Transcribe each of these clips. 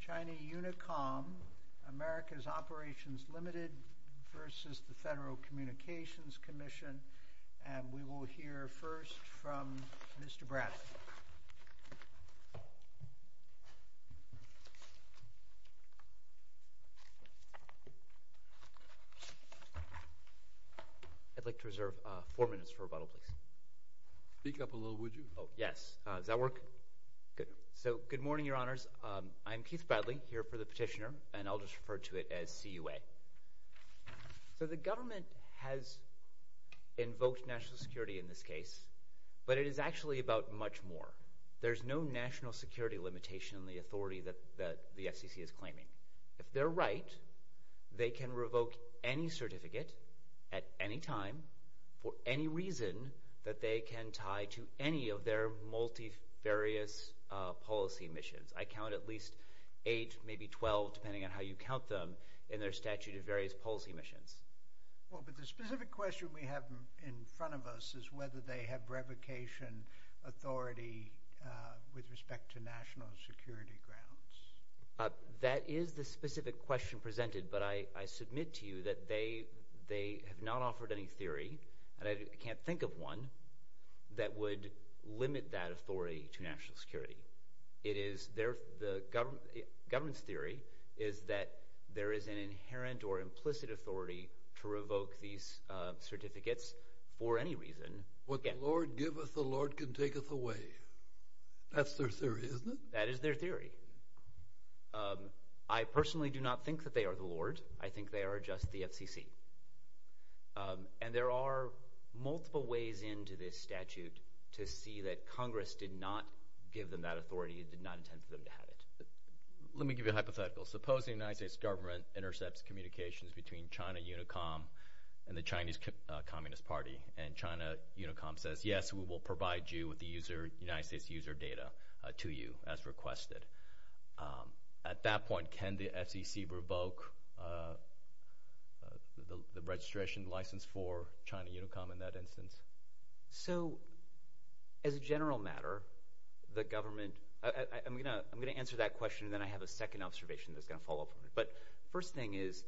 China Unicom, America's Operations Limited v. Federal Communications Commission I'd like to reserve four minutes for rebuttal, please. Speak up a little, would you? Oh, yes. Does that work? Good. So, good morning, Your Honors. I'm Keith Bradley, here for the petitioner, and I'll just refer to it as CUA. So the government has invoked national security in this case, but it is actually about much more. There's no national security limitation on the authority that the FCC is claiming. If they're right, they can revoke any certificate at any time for any reason that they can tie to any of their multifarious policy missions. I count at least eight, maybe 12, depending on how you count them, in their statute of various policy missions. Well, but the specific question we have in front of us is whether they have revocation authority with respect to national security grounds. That is the specific question presented, but I submit to you that they have not offered any theory, and I can't think of one, that would limit that authority to national security. It is the government's theory is that there is an inherent or implicit authority to revoke these certificates for any reason. What the Lord giveth, the Lord can taketh away. That's their theory, isn't it? That is their theory. I personally do not think that they are the Lord. I think they are just the FCC. And there are multiple ways into this statute to see that Congress did not give them that authority and did not intend for them to have it. Let me give you a hypothetical. Suppose the United States government intercepts communications between China Unicom and the Chinese Communist Party, and China Unicom says, yes, we will provide you with the United States certificate you requested. At that point, can the FCC revoke the registration license for China Unicom in that instance? So as a general matter, the government – I'm going to answer that question, and then I have a second observation that's going to follow up on it. But first thing is,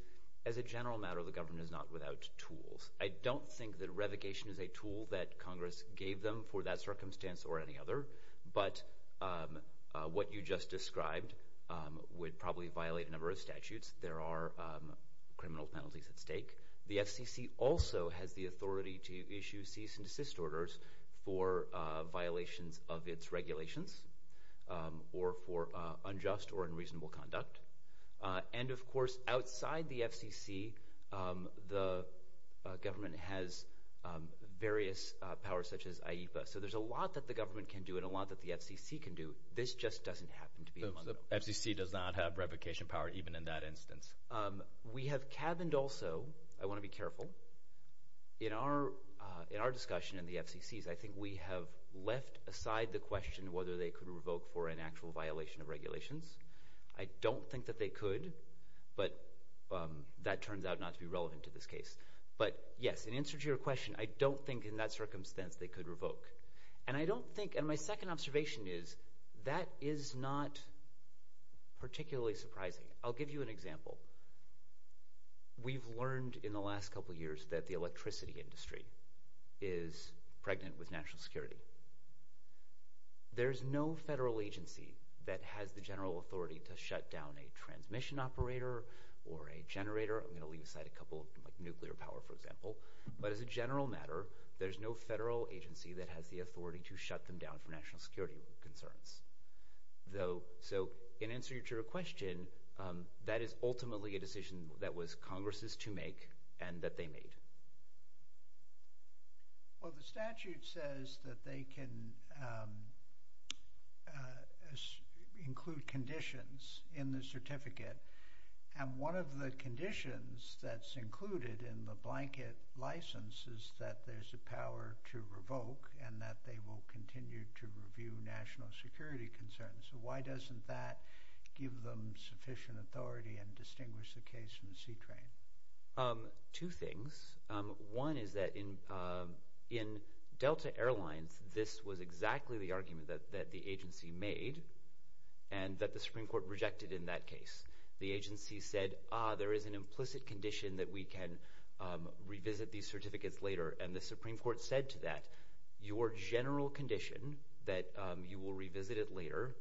as a general matter, the government is not without tools. I don't think that revocation is a tool that Congress gave them for that circumstance or any other, but what you just described would probably violate a number of statutes. There are criminal penalties at stake. The FCC also has the authority to issue cease-and-desist orders for violations of its regulations or for unjust or unreasonable conduct. And of course, outside the FCC, the government has various powers, such as IEPA. So there's a lot that the government can do and a lot that the FCC can do. This just doesn't happen to be among them. So the FCC does not have revocation power even in that instance? We have cabined also – I want to be careful. In our discussion in the FCCs, I think we have left aside the question whether they could revoke for an actual violation of regulations. I don't think that they could, but that turns out not to be relevant to this case. But yes, in answer to your question, I don't think in that circumstance they could revoke. And I don't think – and my second observation is that is not particularly surprising. I'll give you an example. We've learned in the last couple years that the electricity industry is pregnant with national security. There's no federal agency that has the general authority to shut down a transmission operator or a generator. I'm going to leave aside a couple, like nuclear power, for example. But as a general matter, there's no federal agency that has the authority to shut them down for national security concerns. So in answer to your question, that is ultimately a decision that was Congress's to make and that they made. Well, the statute says that they can include conditions in the certificate. And one of the conditions that's included in the blanket license is that there's a power to revoke and that they will continue to review national security concerns. So why doesn't that give them sufficient authority and distinguish the case from the C-train? Two things. One is that in Delta Airlines, this was exactly the argument that the agency made and that the Supreme Court rejected in that case. The agency said, ah, there is an implicit condition that we can revisit these certificates later. And the Supreme Court said to that, your general condition that you will revisit it later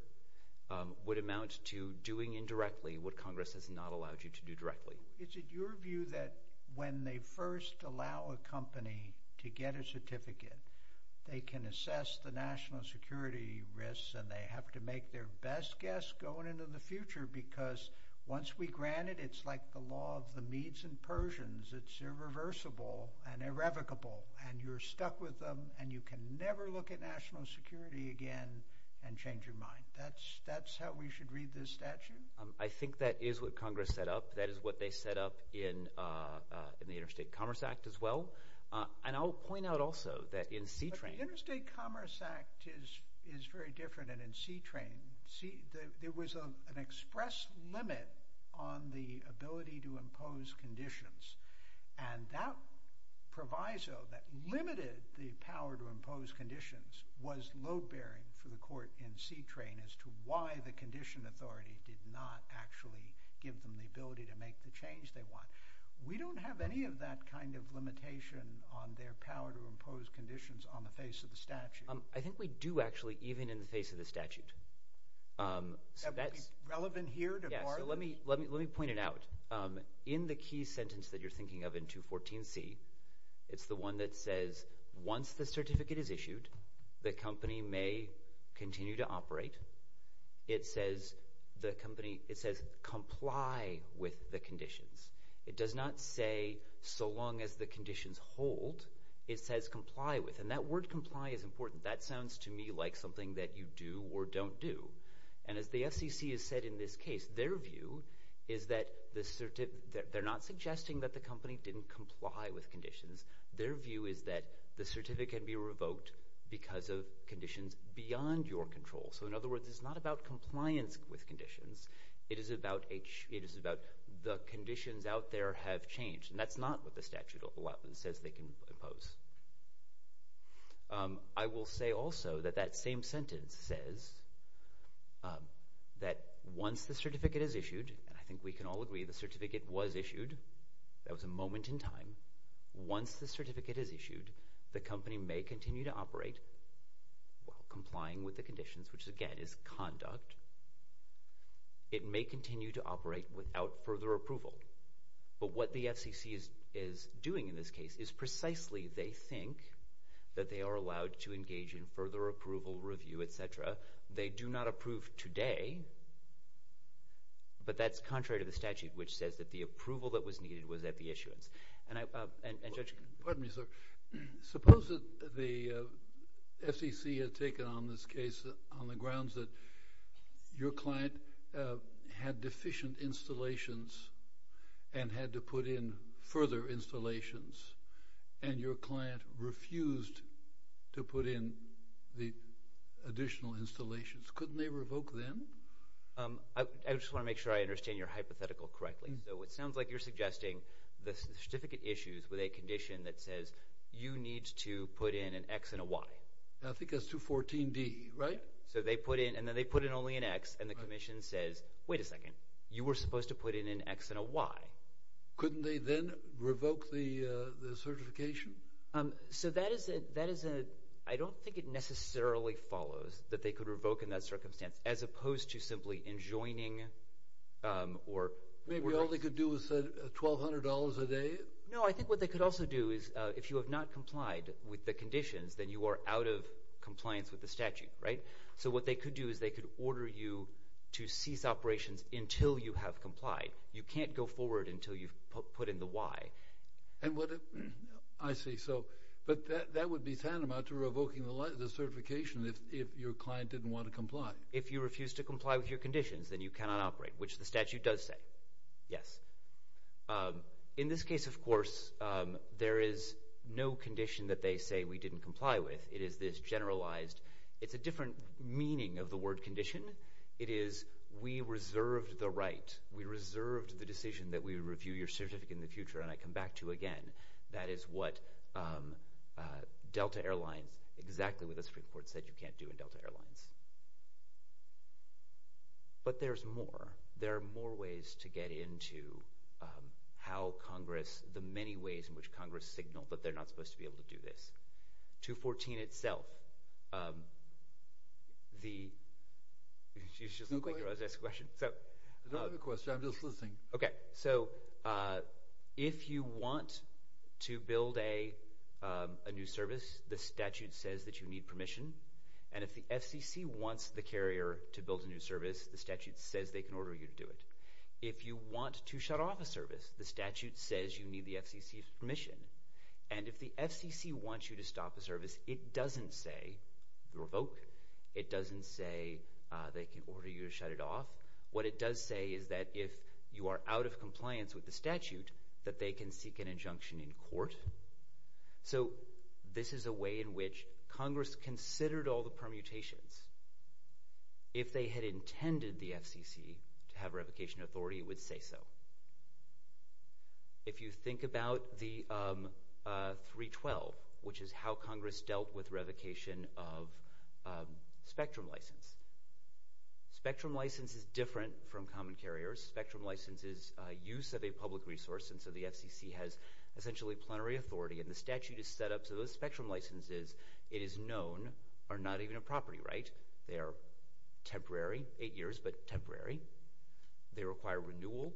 would amount to doing indirectly what Congress has not allowed you to do directly. Is it your view that when they first allow a company to get a certificate, they can assess the national security risks and they have to make their best guess going into the future because once we grant it, it's like the law of the Medes and Persians. It's irreversible and irrevocable and you're stuck with them and you can never look at national security again and change your mind. That's how we should read this statute. I think that is what Congress set up. That is what they set up in the Interstate Commerce Act as well. And I'll point out also that in C-Train- The Interstate Commerce Act is very different and in C-Train, there was an express limit on the ability to impose conditions and that proviso that limited the power to impose conditions was load-bearing for the court in C-Train as to why the condition authority did not actually give them the ability to make the change they want. We don't have any of that kind of limitation on their power to impose conditions on the face of the statute. I think we do actually even in the face of the statute. That would be relevant here to Barlow? Yeah, so let me point it out. In the key sentence that you're thinking of in 214C, it's the one that says, once the certificate is issued, the company may continue to operate. It says comply with the conditions. It does not say so long as the conditions hold. It says comply with, and that word comply is important. That sounds to me like something that you do or don't do. And as the FCC has said in this case, their view is that they're not suggesting that the company didn't comply with conditions. Their view is that the certificate can be revoked because of conditions beyond your control. So in other words, it's not about compliance with conditions, it is about the conditions out there have changed, and that's not what the statute says they can impose. I will say also that that same sentence says that once the certificate is issued, I think we can all agree the certificate was issued, that was a moment in time. Once the certificate is issued, the company may continue to operate while complying with the conditions, which again is conduct. It may continue to operate without further approval. But what the FCC is doing in this case is precisely they think that they are allowed to engage in further approval review, et cetera. They do not approve today, but that's contrary to the statute, which says that the approval that was needed was at the issuance. And Judge? Pardon me, sir. Suppose that the FCC had taken on this case on the grounds that your client had deficient installations and had to put in further installations, and your client refused to put in the additional installations. Couldn't they revoke them? I just want to make sure I understand your hypothetical correctly. So it sounds like you're suggesting the certificate issues with a condition that says you need to put in an X and a Y. I think that's 214D, right? So they put in, and then they put in only an X, and the commission says, wait a second, you were supposed to put in an X and a Y. Couldn't they then revoke the certification? So that is a, I don't think it necessarily follows that they could revoke in that circumstance as opposed to simply enjoining or revoking. Maybe all they could do is say $1,200 a day? No, I think what they could also do is if you have not complied with the conditions, then you are out of compliance with the statute, right? So what they could do is they could order you to cease operations until you have complied. You can't go forward until you've put in the Y. And what if, I see, so, but that would be tantamount to revoking the certification if your client didn't want to comply. If you refuse to comply with your conditions, then you cannot operate, which the statute does say, yes. In this case, of course, there is no condition that they say we didn't comply with. It is this generalized, it's a different meaning of the word condition. It is we reserved the right. We reserved the decision that we would review your certificate in the future, and I come back to again. That is what Delta Airlines, exactly what the Supreme Court said you can't do in Delta Airlines. But there's more. There are more ways to get into how Congress, the many ways in which Congress signaled that they're not supposed to be able to do this. 214 itself, the, you should just look like you're asking a question. I don't have a question. I'm just listening. Okay. So if you want to build a new service, the statute says that you need permission, and if the FCC wants the carrier to build a new service, the statute says they can order you to do it. If you want to shut off a service, the statute says you need the FCC's permission. And if the FCC wants you to stop a service, it doesn't say revoke. It doesn't say they can order you to shut it off. What it does say is that if you are out of compliance with the statute, that they can seek an injunction in court. So this is a way in which Congress considered all the permutations. If they had intended the FCC to have revocation authority, it would say so. If you think about the 312, which is how Congress dealt with revocation of spectrum license. Spectrum license is different from common carrier. Spectrum license is use of a public resource, and so the FCC has essentially plenary authority, and the statute is set up so those spectrum licenses, it is known, are not even a property, right? They are temporary, eight years, but temporary. They require renewal.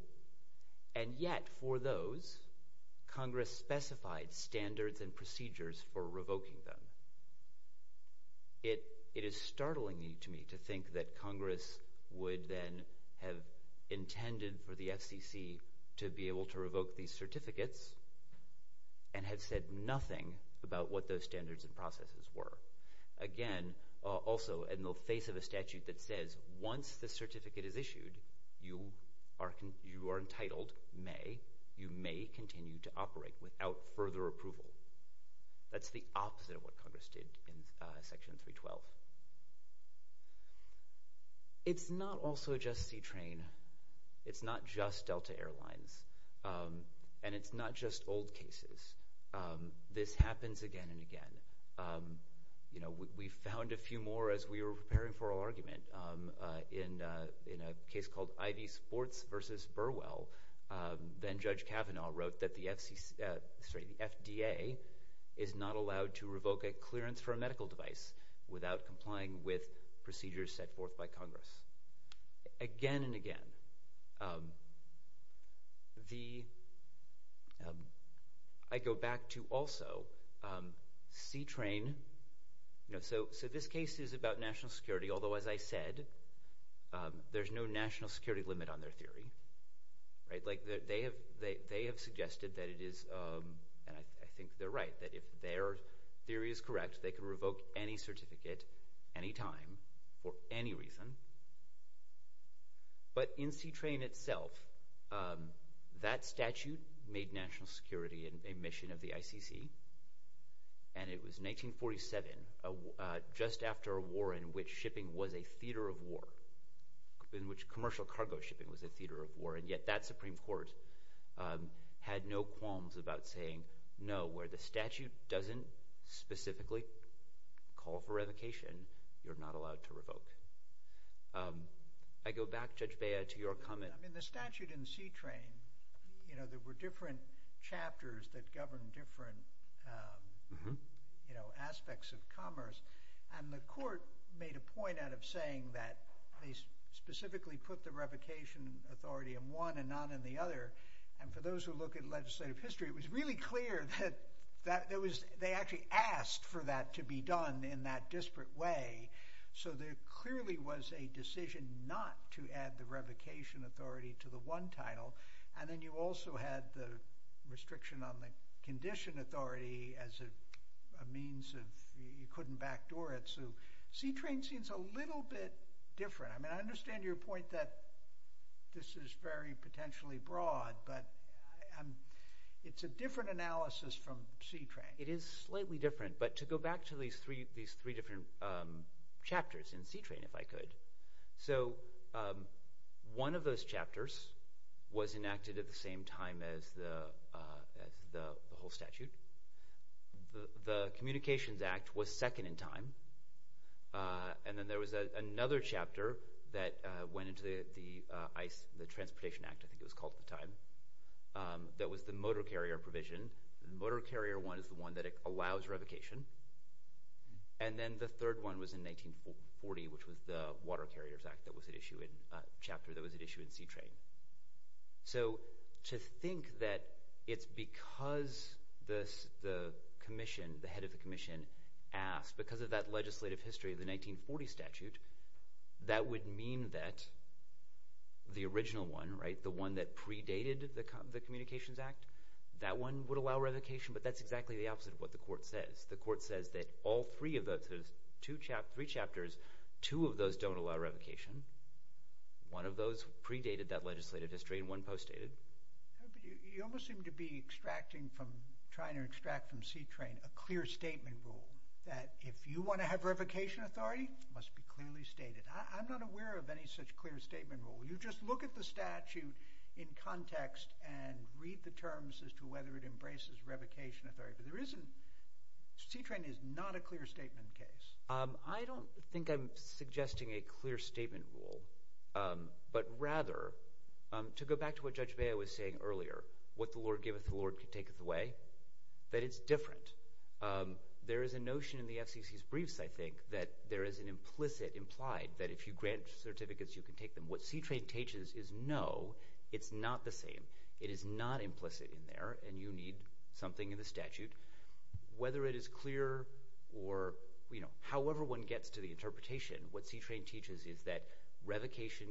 And yet, for those, Congress specified standards and procedures for revoking them. It is startling to me to think that Congress would then have intended for the FCC to be able to revoke these certificates and have said nothing about what those standards and processes were. Again, also, in the face of a statute that says once the certificate is issued, you are entitled, may, you may continue to operate without further approval. That's the opposite of what Congress did in Section 312. It's not also just C-Train. It's not just Delta Air Lines. And it's not just old cases. This happens again and again. We found a few more as we were preparing for our argument in a case called IV Sports versus Burwell. Then Judge Kavanaugh wrote that the FDA is not allowed to revoke a clearance for a medical device without complying with procedures set forth by Congress. Again and again. I go back to, also, C-Train. So this case is about national security, although, as I said, there's no national security limit on their theory. They have suggested that it is, and I think they're right, that if their theory is correct, they can revoke any certificate, any time, for any reason. But in C-Train itself, that statute made national security a mission of the ICC. And it was 1947, just after a war in which shipping was a theater of war, in which commercial cargo shipping was a theater of war. And yet that Supreme Court had no qualms about saying, no, where the statute doesn't specifically call for revocation, you're not allowed to revoke. I go back, Judge Bea, to your comment. I mean, the statute in C-Train, there were different chapters that govern different aspects of commerce. And the court made a point out of saying that they specifically put the revocation authority in one and not in the other. And for those who look at legislative history, it was really clear that there was, they actually asked for that to be done in that disparate way. So there clearly was a decision not to add the revocation authority to the one title. And then you also had the restriction on the condition authority as a means of, you couldn't backdoor it. So C-Train seems a little bit different. I mean, I understand your point that this is very potentially broad, but it's a different analysis from C-Train. It is slightly different. But to go back to these three different chapters in C-Train, if I could, so one of those chapters was enacted at the same time as the whole statute. The Communications Act was second in time. And then there was another chapter that went into the ICE, the Transportation Act, I think it was called at the time, that was the motor carrier provision. The motor carrier one is the one that allows revocation. And then the third one was in 1940, which was the Water Carriers Act that was at issue in, chapter that was at issue in C-Train. So, to think that it's because the commission, the head of the commission asked, because of that legislative history of the 1940 statute, that would mean that the original one, right, the one that predated the Communications Act, that one would allow revocation, but that's exactly the opposite of what the court says. The court says that all three of those, two chapters, three chapters, two of those don't allow revocation. One of those predated that legislative history and one post-dated. You almost seem to be extracting from, trying to extract from C-Train a clear statement rule that if you want to have revocation authority, it must be clearly stated. I'm not aware of any such clear statement rule. You just look at the statute in context and read the terms as to whether it embraces revocation authority. But there isn't, C-Train is not a clear statement case. I don't think I'm suggesting a clear statement rule, but rather, to go back to what Judge Bea was saying earlier, what the Lord giveth, the Lord taketh away, that it's different. There is a notion in the FCC's briefs, I think, that there is an implicit implied that if you grant certificates, you can take them. What C-Train teaches is no, it's not the same. It is not implicit in there and you need something in the statute. Whether it is clear or, you know, however one gets to the interpretation, what C-Train teaches is that revocation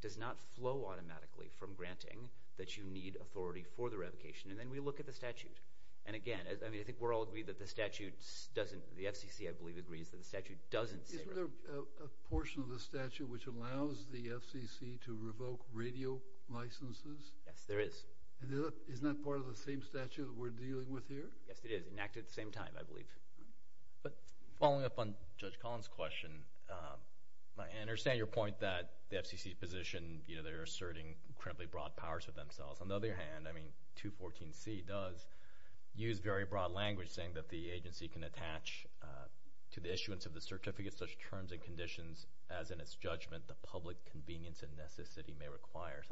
does not flow automatically from granting that you need authority for the revocation. And then we look at the statute. And again, I mean, I think we're all agreed that the statute doesn't, the FCC I believe agrees that the statute doesn't say revocation. Isn't there a portion of the statute which allows the FCC to revoke radio licenses? Yes, there is. And isn't that part of the same statute that we're dealing with here? Yes, it is. Enacted at the same time, I believe. But following up on Judge Collins' question, I understand your point that the FCC's position, you know, they're asserting incredibly broad powers for themselves. On the other hand, I mean, 214C does use very broad language saying that the agency can attach to the issuance of the certificate such terms and conditions as in its judgment the public convenience and necessity may require.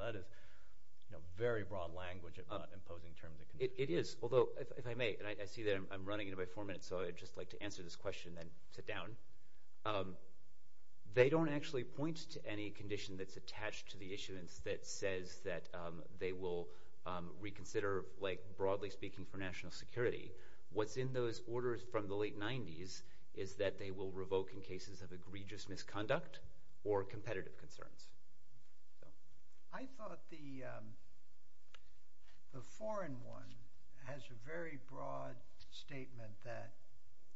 It is. Although, if I may, and I see that I'm running into my four minutes, so I'd just like to answer this question and then sit down. They don't actually point to any condition that's attached to the issuance that says that they will reconsider, like broadly speaking for national security. What's in those orders from the late 90s is that they will revoke in cases of egregious misconduct or competitive concerns. I thought the foreign one has a very broad statement that,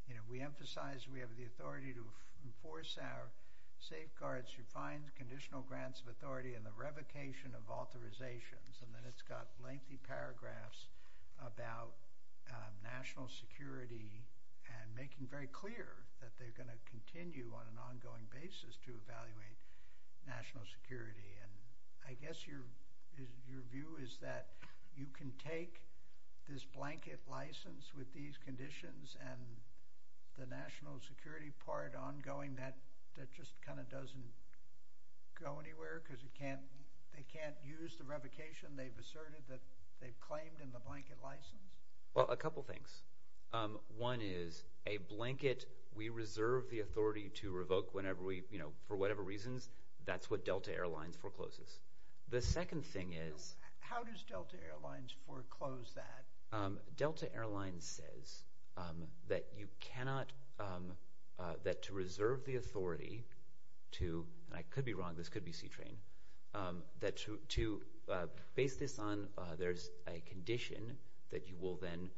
you know, we emphasize we have the authority to enforce our safeguards, to find conditional grants of authority, and the revocation of authorizations, and then it's got lengthy paragraphs about national security and making very clear that they're going to continue on an ongoing basis to evaluate national security. And I guess your view is that you can take this blanket license with these conditions and the national security part ongoing, that just kind of doesn't go anywhere because it can't, they can't use the revocation they've asserted that they've claimed in the blanket license? Well, a couple things. One is a blanket we reserve the authority to revoke whenever we, you know, for whatever reasons, that's what Delta Air Lines forecloses. The second thing is... How does Delta Air Lines foreclose that? Delta Air Lines says that you cannot, that to reserve the authority to, and I could be wrong, this could be C-Train, that to base this on there's a condition that you will then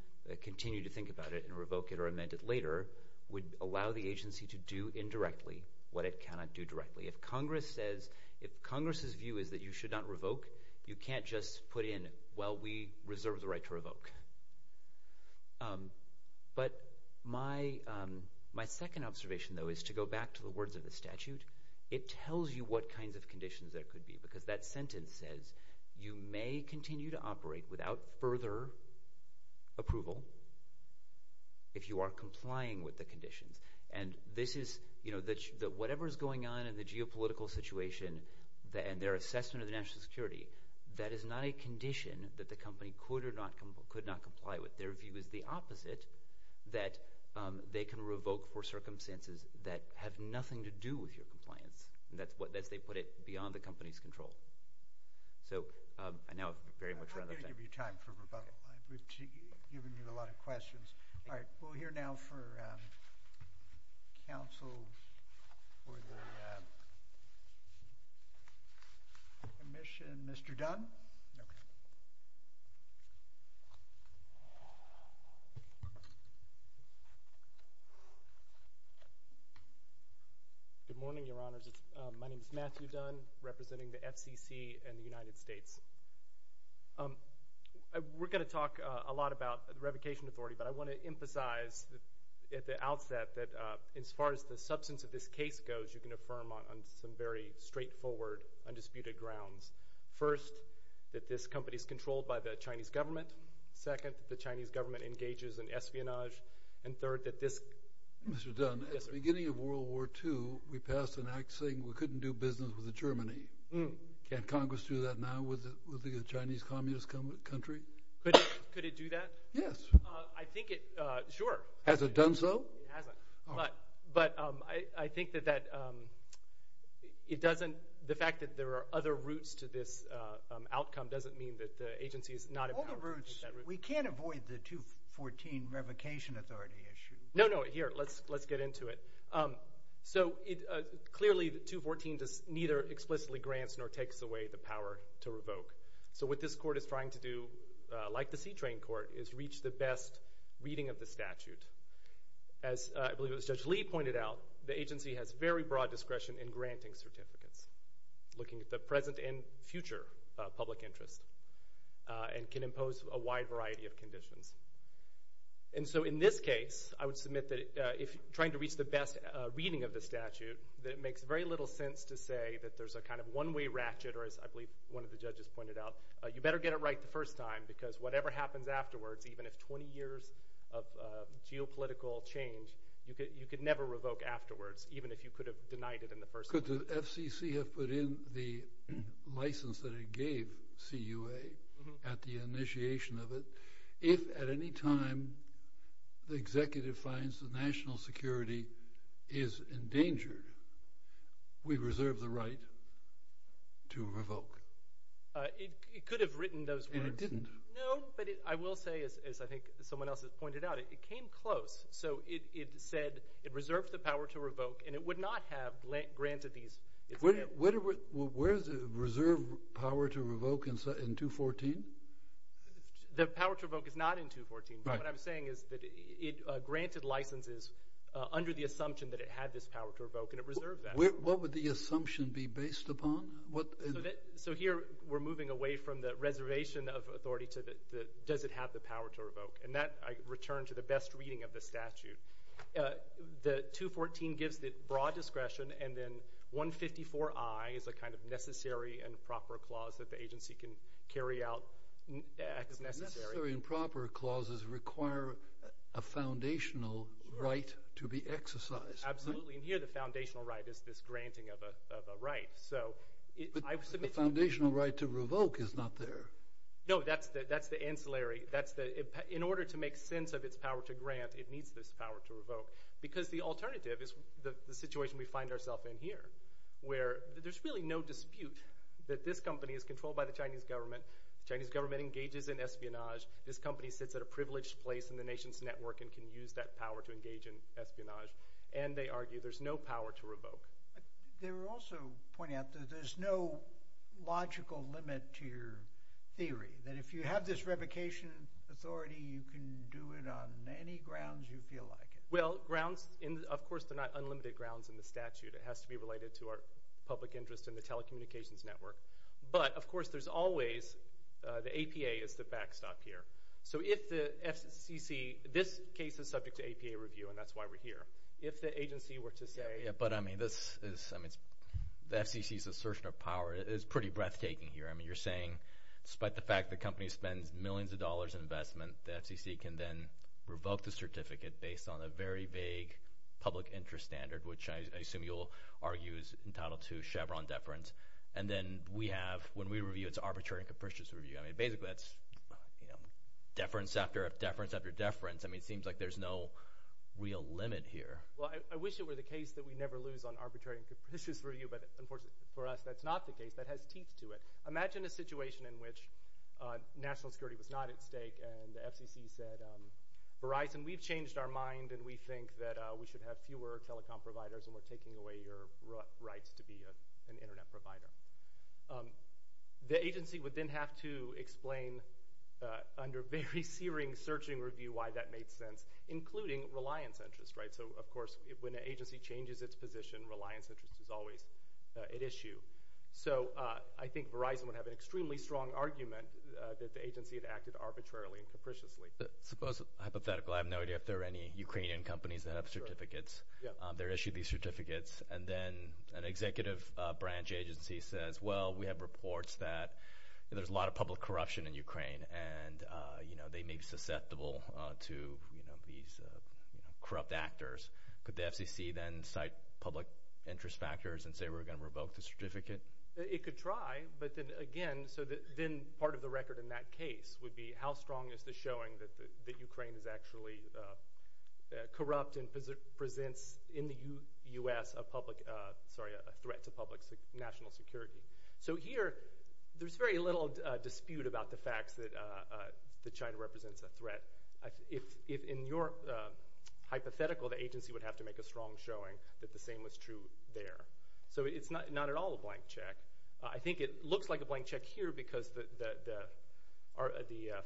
continue to think about it and revoke it or amend it later would allow the agency to do indirectly what it cannot do directly. If Congress says, if Congress's view is that you should not revoke, you can't just put in, well, we reserve the right to revoke. But my second observation, though, is to go back to the words of the statute, it tells you what kinds of conditions there could be because that sentence says you may continue to operate without further approval if you are complying with the conditions. And this is, you know, that whatever's going on in the geopolitical situation and their assessment of the national security, that is not a condition that the company could or could not comply with. Their view is the opposite, that they can revoke for circumstances that have nothing to do with your compliance, and that's what, as they put it, beyond the company's control. So, I know I've very much run out of time. I'm going to give you time for rebuttal. We've given you a lot of questions. All right, we'll hear now for counsel for the commission, Mr. Dunn. Okay. Good morning, Your Honors. My name is Matthew Dunn, representing the FCC and the United States. We're going to talk a lot about revocation authority, but I want to emphasize at the outset that as far as the substance of this case goes, you can affirm on some very straightforward, undisputed grounds. First, that this company is controlled by the Chinese government. Second, that the Chinese government engages in espionage. And third, that this— Mr. Dunn, at the beginning of World War II, we passed an act saying we couldn't do business with Germany. Can't Congress do that now with the Chinese Communist country? Could it do that? Yes. I think it—sure. Has it done so? It hasn't. But I think that that—it doesn't—the fact that there are other routes to this outcome doesn't mean that the agency is not— All the routes—we can't avoid the 214 revocation authority issue. No, no. Here. Let's get into it. So, clearly, the 214 neither explicitly grants nor takes away the power to revoke. So, what this court is trying to do, like the C-train court, is reach the best reading of the statute. As I believe it was Judge Lee pointed out, the agency has very broad discretion in granting certificates, looking at the present and future public interest, and can impose a wide variety of conditions. And so, in this case, I would submit that if—trying to reach the best reading of the statute, that it makes very little sense to say that there's a kind of one-way ratchet, or as I believe one of the judges pointed out, you better get it right the first time, because whatever happens afterwards, even if 20 years of geopolitical change, you could never revoke afterwards, even if you could have denied it in the first place. Could the FCC have put in the license that it gave CUA at the initiation of it, if at any time the executive finds that national security is endangered, we reserve the right to revoke? It could have written those words. And it didn't? No, but I will say, as I think someone else has pointed out, it came close. So, it said it reserved the power to revoke, and it would not have granted these— Where is the reserved power to revoke in 214? The power to revoke is not in 214, but what I'm saying is that it granted licenses under the assumption that it had this power to revoke, and it reserved that. What would the assumption be based upon? So here, we're moving away from the reservation of authority to does it have the power to revoke, and that I return to the best reading of the statute. The 214 gives the broad discretion, and then 154I is a kind of necessary and proper clause that the agency can carry out as necessary. Necessary and proper clauses require a foundational right to be exercised. Absolutely. And here, the foundational right is this granting of a right. But the foundational right to revoke is not there. No, that's the ancillary. In order to make sense of its power to grant, it needs this power to revoke, because the alternative is the situation we find ourselves in here, where there's really no dispute that this company is controlled by the Chinese government, the Chinese government engages in espionage, this company sits at a privileged place in the nation's network and can use that power to engage in espionage, and they argue there's no power to revoke. They were also pointing out that there's no logical limit to your theory, that if you have this revocation authority, you can do it on any grounds you feel like it. Well, grounds, of course, they're not unlimited grounds in the statute. It has to be related to our public interest in the telecommunications network. But, of course, there's always – the APA is the backstop here. So if the FCC – this case is subject to APA review, and that's why we're here. If the agency were to say – Yeah, but I mean, this is – I mean, the FCC's assertion of power is pretty breathtaking here. I mean, you're saying, despite the fact the company spends millions of dollars in investment, the FCC can then revoke the certificate based on a very vague public interest standard, which I assume you'll argue is entitled to Chevron deference. And then we have – when we review, it's arbitrary and capricious review. I mean, basically, that's deference after deference after deference. I mean, it seems like there's no real limit here. Well, I wish it were the case that we never lose on arbitrary and capricious review, but unfortunately for us, that's not the case. That has teeth to it. Imagine a situation in which national security was not at stake and the FCC said, Verizon, we've changed our mind and we think that we should have fewer telecom providers and we're taking away your rights to be an Internet provider. The agency would then have to explain under very searing searching review why that made sense, including reliance interest, right? So, of course, when an agency changes its position, reliance interest is always at issue. So I think Verizon would have an extremely strong argument that the agency had acted arbitrarily and capriciously. Suppose – hypothetically, I have no idea if there are any Ukrainian companies that have certificates. They're issued these certificates and then an executive branch agency says, well, we have reports that there's a lot of public corruption in Ukraine and they may be susceptible to these corrupt actors. Could the FCC then cite public interest factors and say we're going to revoke the certificate? It could try, but then again – so then part of the record in that case would be how strong is the showing that Ukraine is actually corrupt and presents in the U.S. a public – sorry, a threat to public national security. So here, there's very little dispute about the fact that China represents a threat. If in your hypothetical, the agency would have to make a strong showing that the same was true there. So it's not at all a blank check. I think it looks like a blank check here because the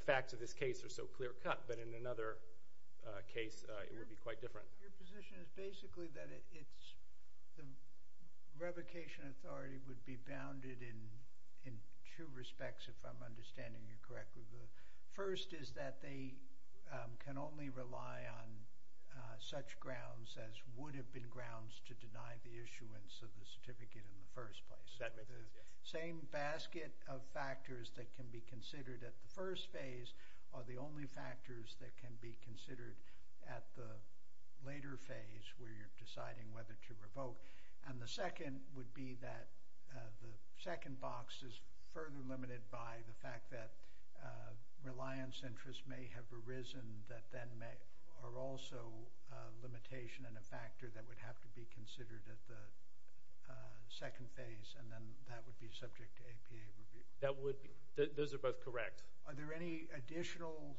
facts of this case are so clear cut, but in another case, it would be quite different. Your position is basically that it's – the revocation authority would be bounded in two respects, if I'm understanding you correctly. The first is that they can only rely on such grounds as would have been grounds to deny the issuance of the certificate in the first place. Does that make sense? The same basket of factors that can be considered at the first phase are the only factors that can be considered at the later phase where you're deciding whether to revoke. And the second would be that the second box is further limited by the fact that reliance interests may have arisen that then may – are also a limitation and a factor that would have to be considered at the second phase, and then that would be subject to APA review. That would be – those are both correct. Are there any additional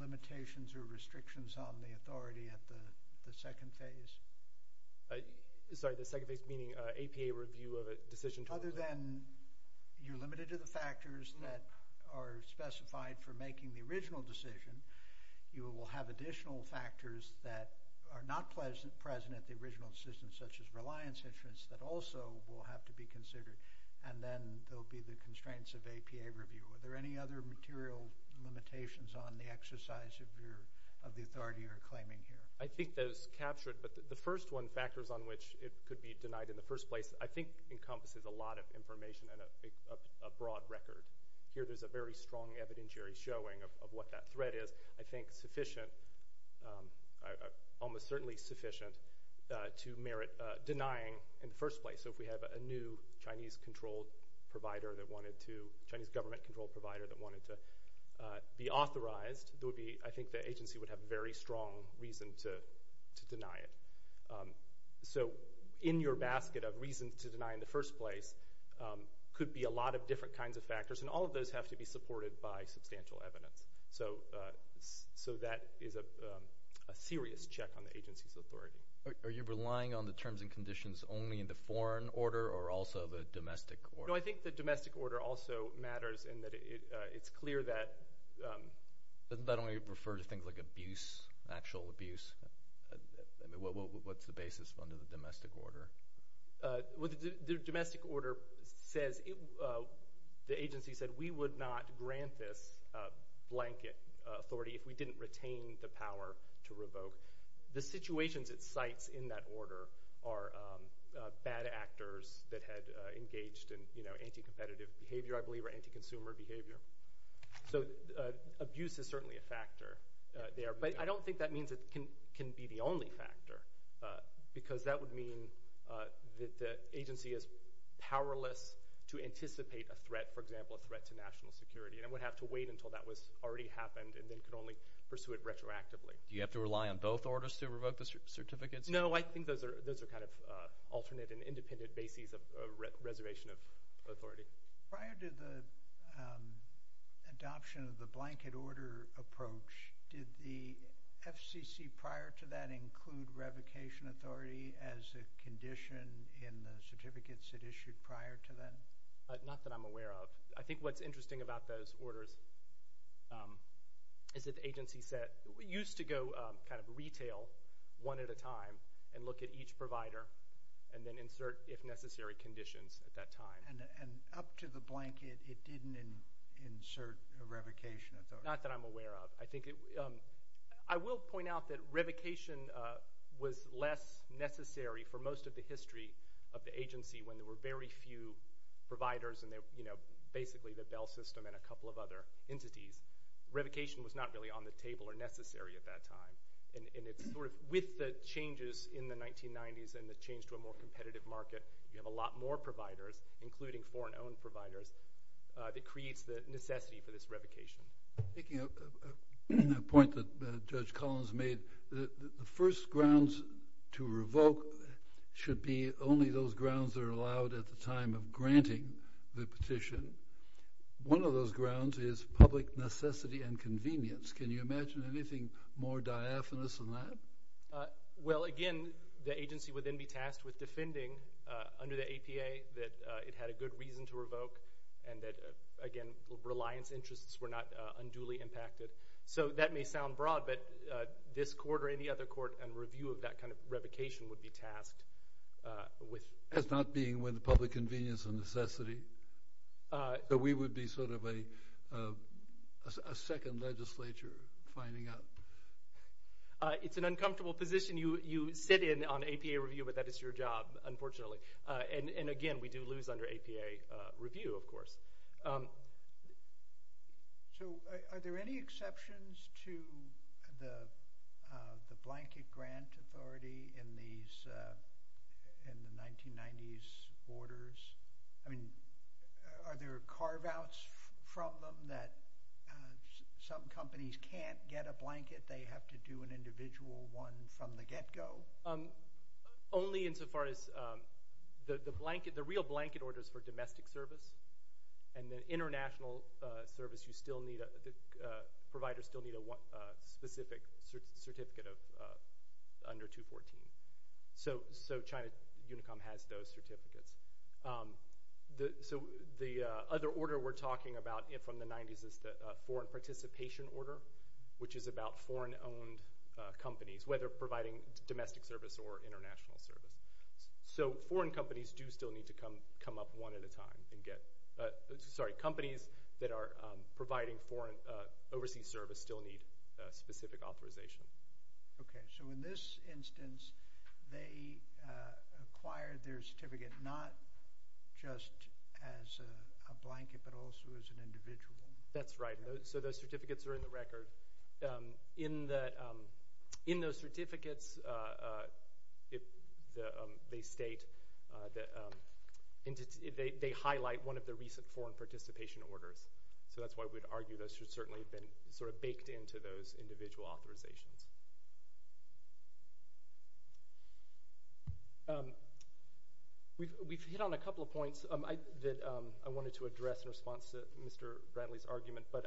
limitations or restrictions on the authority at the second phase? Sorry, the second phase meaning APA review of a decision – Other than you're limited to the factors that are specified for making the original decision, you will have additional factors that are not present at the original decision such as reliance interests that also will have to be considered, and then there will be the constraints of APA review. Are there any other material limitations on the exercise of the authority you're claiming here? I think that is captured, but the first one, factors on which it could be denied in the first place, I think encompasses a lot of information and a broad record. Here there's a very strong evidentiary showing of what that threat is. I think sufficient – almost certainly sufficient to merit denying in the first place. So if we have a new Chinese-controlled provider that wanted to – Chinese government-controlled provider that wanted to be authorized, there would be – I think the agency would have very strong reason to deny it. So in your basket of reasons to deny in the first place could be a lot of different kinds of factors, and all of those have to be supported by substantial evidence. So that is a serious check on the agency's authority. Are you relying on the terms and conditions only in the foreign order or also the domestic order? No, I think the domestic order also matters in that it's clear that – But don't you refer to things like abuse, actual abuse? I mean, what's the basis under the domestic order? The domestic order says – the agency said we would not grant this blanket authority if we didn't retain the power to revoke. The situations it cites in that order are bad actors that had engaged in anti-competitive behavior, I believe, or anti-consumer behavior. So abuse is certainly a factor there, but I don't think that means it can be the only factor because that would mean that the agency is powerless to anticipate a threat, for example, a threat to national security, and it would have to wait until that was already happened and then could only pursue it retroactively. Do you have to rely on both orders to revoke the certificates? No, I think those are kind of alternate and independent bases of reservation of authority. Prior to the adoption of the blanket order approach, did the FCC prior to that include revocation authority as a condition in the certificates it issued prior to that? Not that I'm aware of. I think what's interesting about those orders is that the agency said – it used to go kind of retail one at a time and look at each provider and then insert, if necessary, conditions at that time. And up to the blanket, it didn't insert a revocation authority? Not that I'm aware of. I will point out that revocation was less necessary for most of the history of the agency when there were very few providers and basically the Bell System and a couple of other entities. Revocation was not really on the table or necessary at that time. With the changes in the 1990s and the change to a more competitive market, you have a lot more providers, including foreign-owned providers, that creates the necessity for this revocation. Making a point that Judge Collins made, the first grounds to revoke should be only those grounds that are allowed at the time of granting the petition. One of those grounds is public necessity and convenience. Can you imagine anything more diaphanous than that? Well, again, the agency would then be tasked with defending under the APA that it had a good reason to revoke and that, again, reliance interests were not unduly impacted. So that may sound broad, but this court or any other court in review of that kind of revocation would be tasked with— As not being with public convenience and necessity? That we would be sort of a second legislature finding out? It's an uncomfortable position. You sit in on APA review, but that is your job, unfortunately. And, again, we do lose under APA review, of course. So are there any exceptions to the blanket grant authority in the 1990s orders? I mean, are there carve-outs from them that some companies can't get a blanket? They have to do an individual one from the get-go? Only insofar as the blanket—the real blanket orders for domestic service and then international service, you still need— the providers still need a specific certificate of under 214. So China Unicom has those certificates. So the other order we're talking about from the 90s is the foreign participation order, which is about foreign-owned companies, whether providing domestic service or international service. So foreign companies do still need to come up one at a time and get— sorry, companies that are providing overseas service still need specific authorization. Okay. So in this instance, they acquired their certificate not just as a blanket, but also as an individual one. That's right. So those certificates are in the record. In those certificates, they state that— they highlight one of the recent foreign participation orders. So that's why we'd argue those should certainly have been sort of baked into those individual authorizations. We've hit on a couple of points that I wanted to address in response to Mr. Bradley's argument, but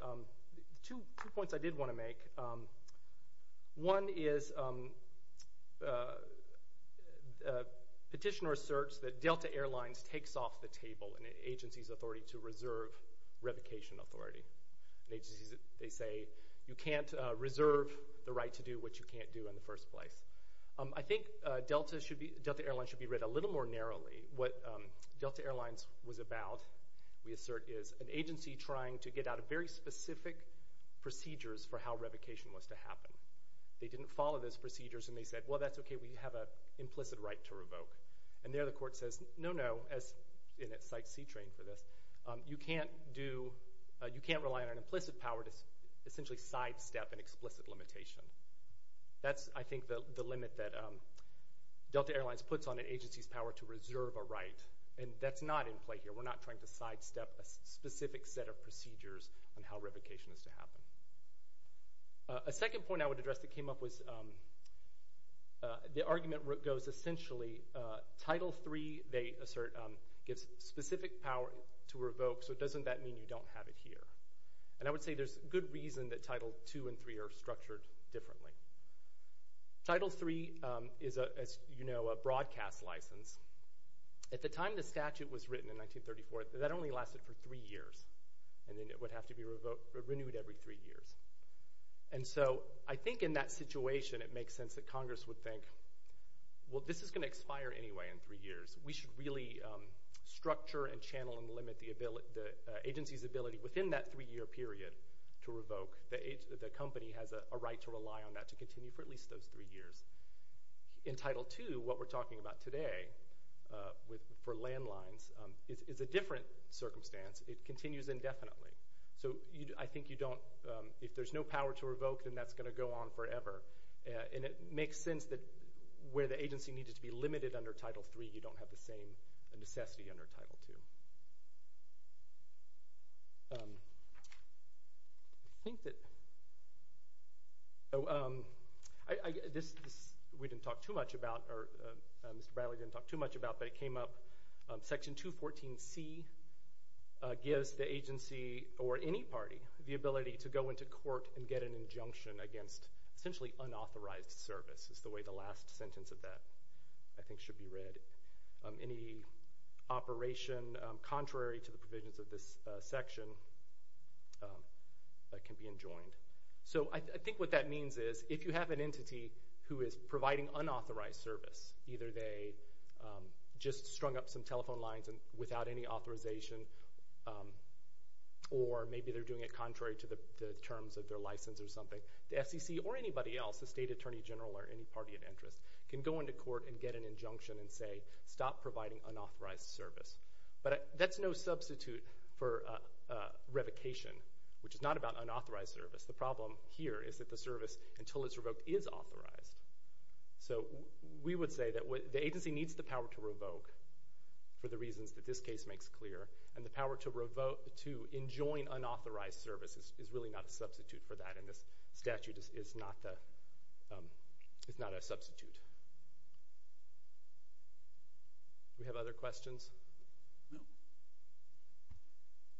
two points I did want to make. One is petitioner asserts that Delta Airlines takes off the table in an agency's authority to reserve revocation authority. They say you can't reserve the right to do what you can't do in the first place. I think Delta Airlines should be read a little more narrowly. What Delta Airlines was about, we assert, is an agency trying to get out of very specific procedures for how revocation was to happen. They didn't follow those procedures, and they said, And there the court says, no, no, and it cites C-Train for this, you can't rely on an implicit power to essentially sidestep an explicit limitation. That's, I think, the limit that Delta Airlines puts on an agency's power to reserve a right, and that's not in play here. We're not trying to sidestep a specific set of procedures on how revocation is to happen. A second point I would address that came up was, the argument goes essentially, Title III, they assert, gives specific power to revoke, so doesn't that mean you don't have it here? And I would say there's good reason that Title II and III are structured differently. Title III is, as you know, a broadcast license. At the time the statute was written in 1934, that only lasted for three years, and then it would have to be renewed every three years. And so I think in that situation it makes sense that Congress would think, Well, this is going to expire anyway in three years. We should really structure and channel and limit the agency's ability within that three-year period to revoke. The company has a right to rely on that to continue for at least those three years. In Title II, what we're talking about today for landlines is a different circumstance. It continues indefinitely. So I think you don't, if there's no power to revoke, then that's going to go on forever. And it makes sense that where the agency needed to be limited under Title III, you don't have the same necessity under Title II. This we didn't talk too much about, or Mr. Bradley didn't talk too much about, but it came up, Section 214C gives the agency, or any party, the ability to go into court and get an injunction against essentially unauthorized service, is the way the last sentence of that I think should be read. Any operation contrary to the provisions of this section can be enjoined. So I think what that means is if you have an entity who is providing unauthorized service, either they just strung up some telephone lines without any authorization, or maybe they're doing it contrary to the terms of their license or something, the SEC or anybody else, the state attorney general or any party of interest, can go into court and get an injunction and say, stop providing unauthorized service. But that's no substitute for revocation, which is not about unauthorized service. The problem here is that the service, until it's revoked, is authorized. So we would say that the agency needs the power to revoke for the reasons that this case makes clear, and the power to enjoin unauthorized service is really not a substitute for that, and this statute is not a substitute. Do we have other questions? All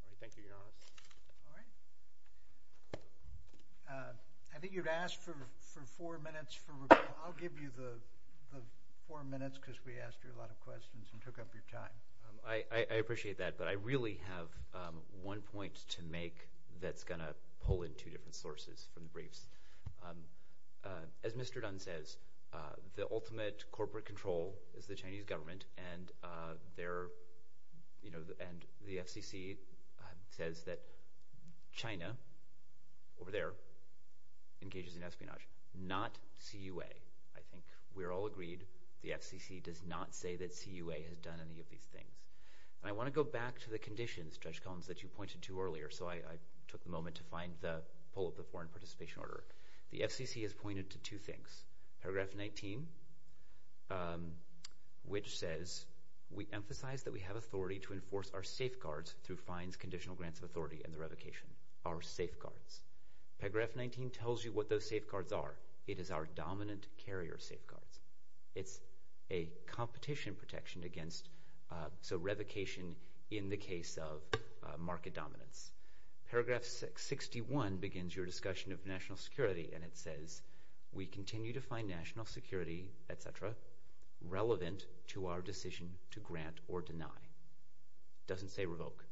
right, thank you, Your Honor. All right. I think you've asked for four minutes for review. I'll give you the four minutes because we asked you a lot of questions and took up your time. I appreciate that, but I really have one point to make that's going to pull in two different sources from the briefs. As Mr. Dunn says, the ultimate corporate control is the Chinese government, and the FCC says that China over there engages in espionage, not CUA. I think we're all agreed the FCC does not say that CUA has done any of these things. I want to go back to the conditions, Judge Collins, that you pointed to earlier, so I took a moment to find the pull of the foreign participation order. The FCC has pointed to two things. Paragraph 19, which says we emphasize that we have authority to enforce our safeguards through fines, conditional grants of authority, and the revocation, our safeguards. Paragraph 19 tells you what those safeguards are. It is our dominant carrier safeguards. It's a competition protection against revocation in the case of market dominance. Paragraph 61 begins your discussion of national security, and it says we continue to find national security, et cetera, relevant to our decision to grant or deny. It doesn't say revoke.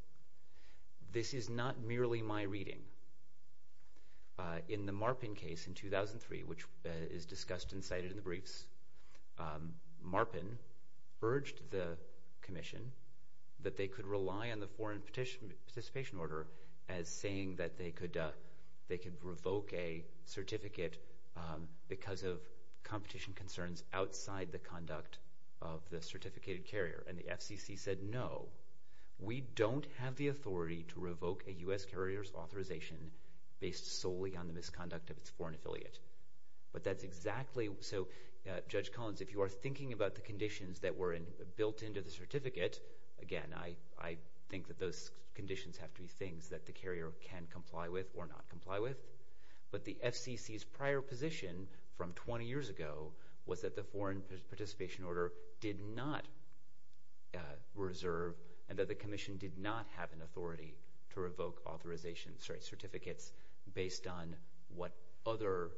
This is not merely my reading. In the Marpin case in 2003, which is discussed and cited in the briefs, Marpin urged the commission that they could rely on the foreign participation order as saying that they could revoke a certificate because of competition concerns outside the conduct of the certificated carrier, and the FCC said, no, we don't have the authority to revoke a U.S. carrier's authorization based solely on the misconduct of its foreign affiliate. But that's exactly so. Judge Collins, if you are thinking about the conditions that were built into the certificate, again, I think that those conditions have to be things that the carrier can comply with or not comply with. But the FCC's prior position from 20 years ago was that the foreign participation order did not reserve and that the commission did not have an authority to revoke certificates based on what other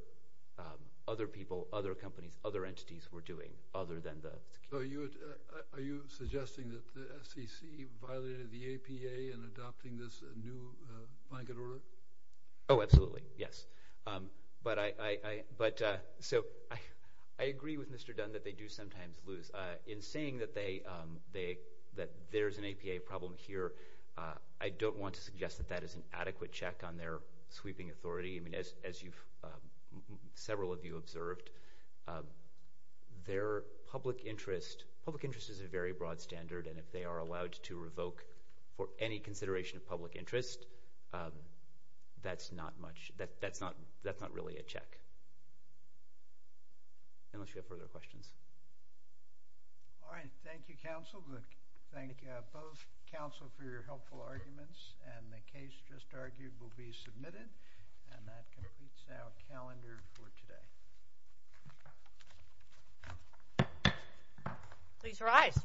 people, other companies, other entities were doing other than the security. So are you suggesting that the FCC violated the APA in adopting this new blanket order? Oh, absolutely, yes. But so I agree with Mr. Dunn that they do sometimes lose. In saying that there's an APA problem here, I don't want to suggest that that is an adequate check on their sweeping authority. I mean, as several of you observed, their public interest is a very broad standard, and if they are allowed to revoke for any consideration of public interest, that's not much. That's not really a check, unless you have further questions. All right. Thank you, counsel. Thank you both, counsel, for your helpful arguments. And the case just argued will be submitted, and that completes our calendar for today. Please rise.